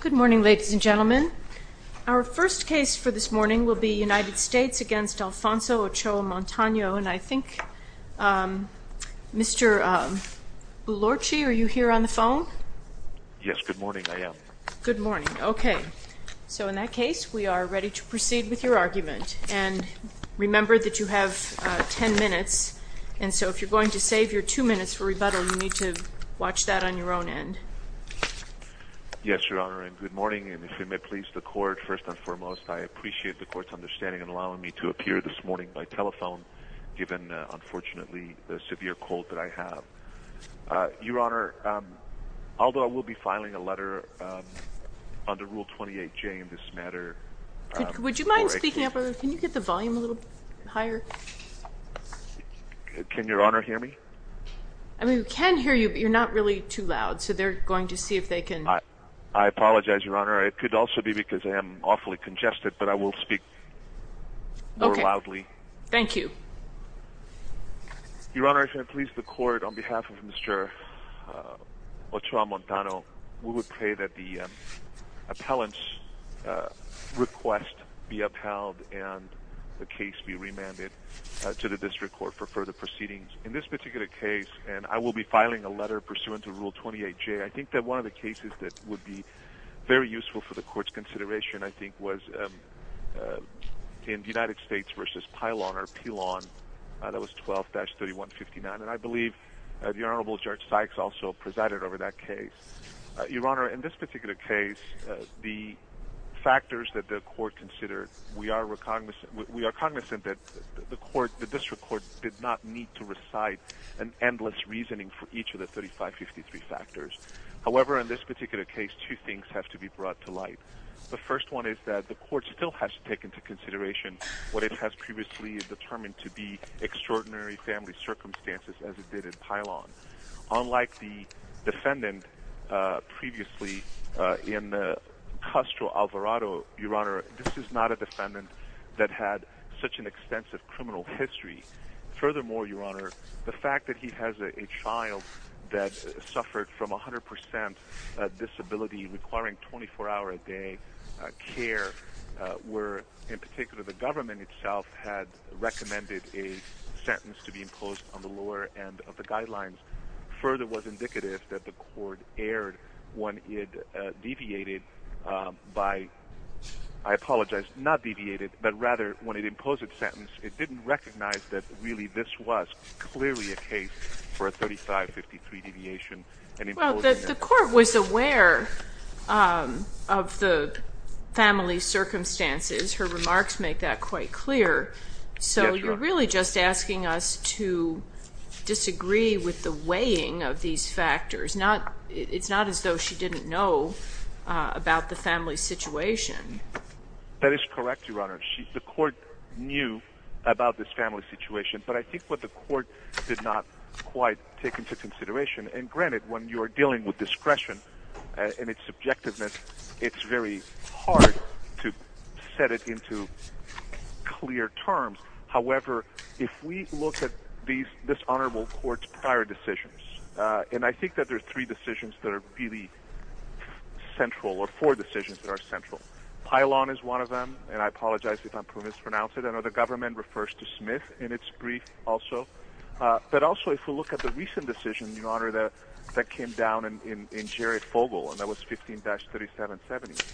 Good morning ladies and gentlemen. Our first case for this morning will be United States against Alfonso Ochoa-Montano and I think Mr. Boulorczy, are you here on the phone? Yes, good morning, I am. Good morning. Okay, so in that case we are ready to proceed with your argument and remember that you have ten minutes and so if you're going to save your two minutes for rebuttal you to watch that on your own end. Yes, Your Honor, and good morning and if you may please the court first and foremost I appreciate the court's understanding and allowing me to appear this morning by telephone given unfortunately the severe cold that I have. Your Honor, although I will be filing a letter under Rule 28J in this matter... Would you mind speaking up a little? Can you get the I can hear you but you're not really too loud so they're going to see if they can... I apologize, Your Honor, it could also be because I am awfully congested but I will speak more loudly. Thank you. Your Honor, if I may please the court, on behalf of Mr. Ochoa-Montano, we would pray that the appellant's request be upheld and the case be remanded to the district court for further proceedings. In this particular case, and I will be filing a letter pursuant to Rule 28J, I think that one of the cases that would be very useful for the court's consideration I think was in the United States versus Pilon or Pilon, that was 12-3159 and I believe the Honorable Judge Sykes also presided over that case. Your Honor, in this particular case the factors that the court considered, we are cognizant that the court, the district court, did not need to recite an endless reasoning for each of the 3553 factors. However, in this particular case, two things have to be brought to light. The first one is that the court still has to take into consideration what it has previously determined to be extraordinary family circumstances as it did in Pilon. Unlike the defendant previously in Castro Alvarado, Your Honor, this is not a defendant that had such an extensive criminal history. Furthermore, Your Honor, the fact that he has a child that suffered from a hundred percent disability requiring 24-hour a day care, where in particular the government itself had recommended a sentence to be imposed on the lower end of the guidelines, further was indicative that the court erred when it deviated by, I apologize, not deviated, but rather when it imposed a sentence, it didn't recognize that really this was clearly a case for a 3553 deviation. The court was aware of the family circumstances. Her remarks make that quite clear. So you're really just asking us to disagree with the weighing of these factors. It's not as though she didn't know about the family situation. That is correct, Your Honor. The court knew about this family situation, but I think what the court did not quite take into consideration, and granted when you are dealing with discretion and its subjectiveness, it's very hard to set it into clear terms. However, if we look at this honorable court's prior decisions, and I think that there are three decisions that are really central, or four decisions that are central. Pilon is one of them, and I apologize if I'm mispronouncing it. I know the government refers to Smith in its brief also, but also if we look at the recent decision, Your Honor, that came down in Jerry Fogle, and that was 15-3770.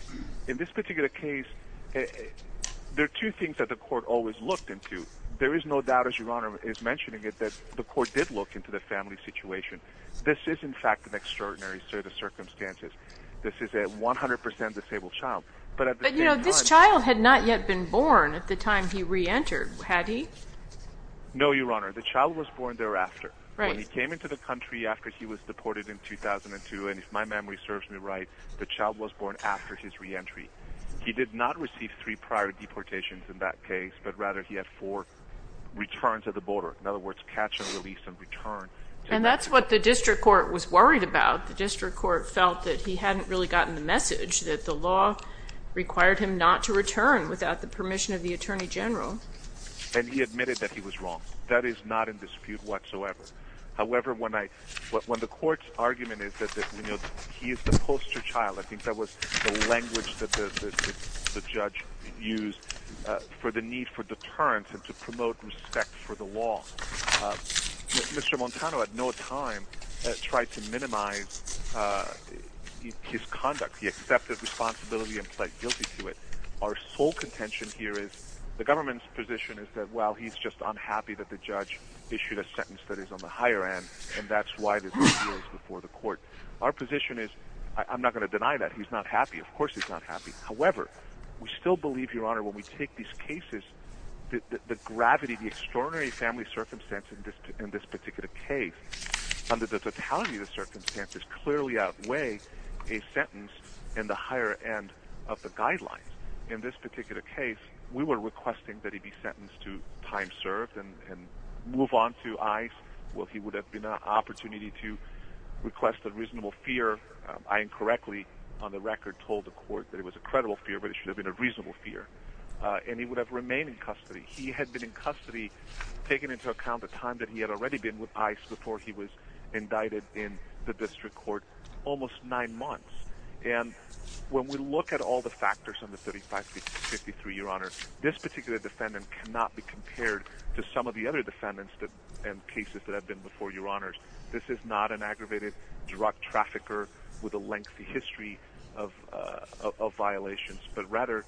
In this particular case, there are two things that the court always looked into. There is no doubt, as Your Honor is mentioning it, that the court did look into the family situation. This is, in fact, an extraordinary set of circumstances. This is a 100% disabled child. But, you know, this child had not yet been born at the time he re-entered, had he? No, Your Honor. The child was born thereafter. When he came into the country after he was deported in 2002, and if my memory serves me right, the child was born after his re-entry. He did not receive three prior deportations in that case, but rather he had four returns at the border. In other words, catch and release and return. And that's what the district court was worried about. The district court felt that he hadn't really gotten the message that the law required him not to return without the permission of the Attorney General. And he admitted that he was wrong. That is not in dispute whatsoever. However, when I, when the court's argument is that, you know, he is the judge used for the need for deterrence and to promote respect for the law, Mr. Montano at no time tried to minimize his conduct. He accepted responsibility and pled guilty to it. Our sole contention here is the government's position is that, well, he's just unhappy that the judge issued a sentence that is on the higher end, and that's why there's no appeals before the court. Our position is, I'm not going to deny that. He's not happy. Of course he's not happy. However, we still believe, Your Honor, when we take these cases, the gravity, the extraordinary family circumstance in this particular case, under the totality of the circumstances, clearly outweigh a sentence in the higher end of the guidelines. In this particular case, we were requesting that he be sentenced to time served and move on to ICE. Well, he would have been an opportunity to I incorrectly, on the record, told the court that it was a credible fear, but it should have been a reasonable fear, and he would have remained in custody. He had been in custody, taking into account the time that he had already been with ICE before he was indicted in the district court, almost nine months. And when we look at all the factors on the 35-53, Your Honor, this particular defendant cannot be compared to some of the other defendants and cases that have been before, Your Honors. This is not an aggravated drug trafficker with a lengthy history of violations, but rather,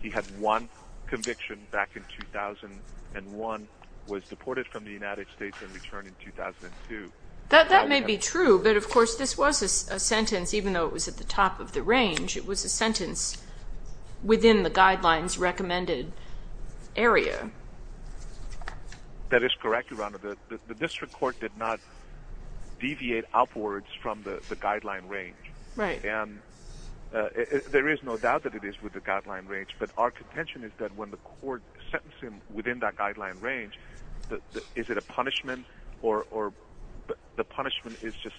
he had one conviction back in 2001, was deported from the United States and returned in 2002. That may be true, but of course this was a sentence, even though it was at the top of the range, it was a sentence within the guidelines recommended area. That is correct, Your Honor. The court did not deviate outwards from the guideline range. Right. And there is no doubt that it is with the guideline range, but our contention is that when the court sentenced him within that guideline range, is it a punishment or the punishment is just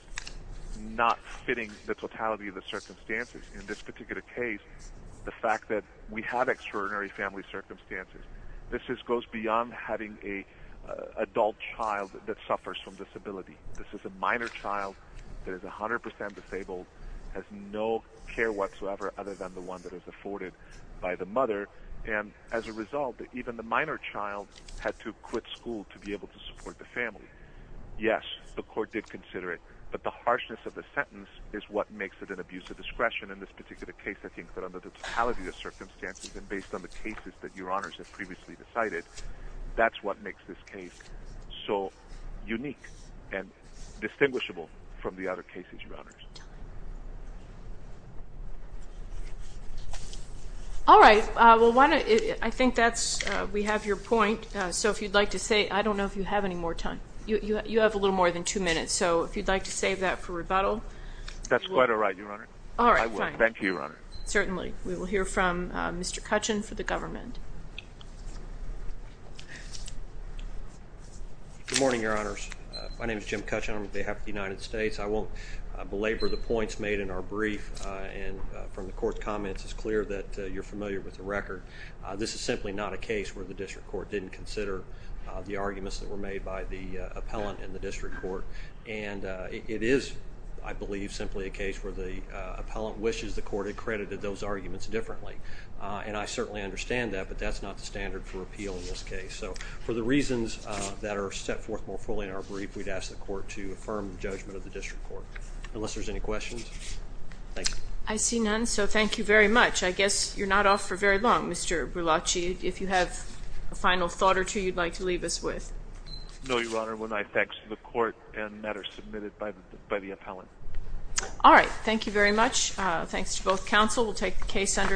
not fitting the totality of the circumstances. In this particular case, the fact that we have extraordinary family circumstances, this is a minor child that is 100% disabled, has no care whatsoever other than the one that is afforded by the mother, and as a result, even the minor child had to quit school to be able to support the family. Yes, the court did consider it, but the harshness of the sentence is what makes it an abuse of discretion in this particular case. I think that under the totality of circumstances and based on the cases that Your Honors have previously decided, that's what makes this case so unique and distinguishable from the other cases, Your Honors. All right, well why don't I think that's, we have your point, so if you'd like to say, I don't know if you have any more time. You have a little more than two minutes, so if you'd like to save that for rebuttal. That's quite all right, Your Honor. All right. Thank you, Your Honor. Certainly. We will hear from Mr. Cutchin for the government. Good morning, Your Honors. My name is Jim Cutchin. On behalf of the United States, I won't belabor the points made in our brief, and from the court's comments, it's clear that you're familiar with the record. This is simply not a case where the district court didn't consider the arguments that were made by the appellant in the district court, and it is, I believe, simply a case where the appellant wishes the court had credited those arguments differently. And I certainly understand that, but that's not the standard for appeal in this case. So for the reasons that are set forth more fully in our brief, we'd ask the court to affirm the judgment of the district court. Unless there's any questions? Thank you. I see none, so thank you very much. I guess you're not off for very long, Mr. Berlacci. If you have a final thought or two you'd like to leave us with. No, Your Honor. One, I thank the court and matters submitted by the appellant. All right. Thank you very much. Thanks to counsel. We'll take the case under advisement.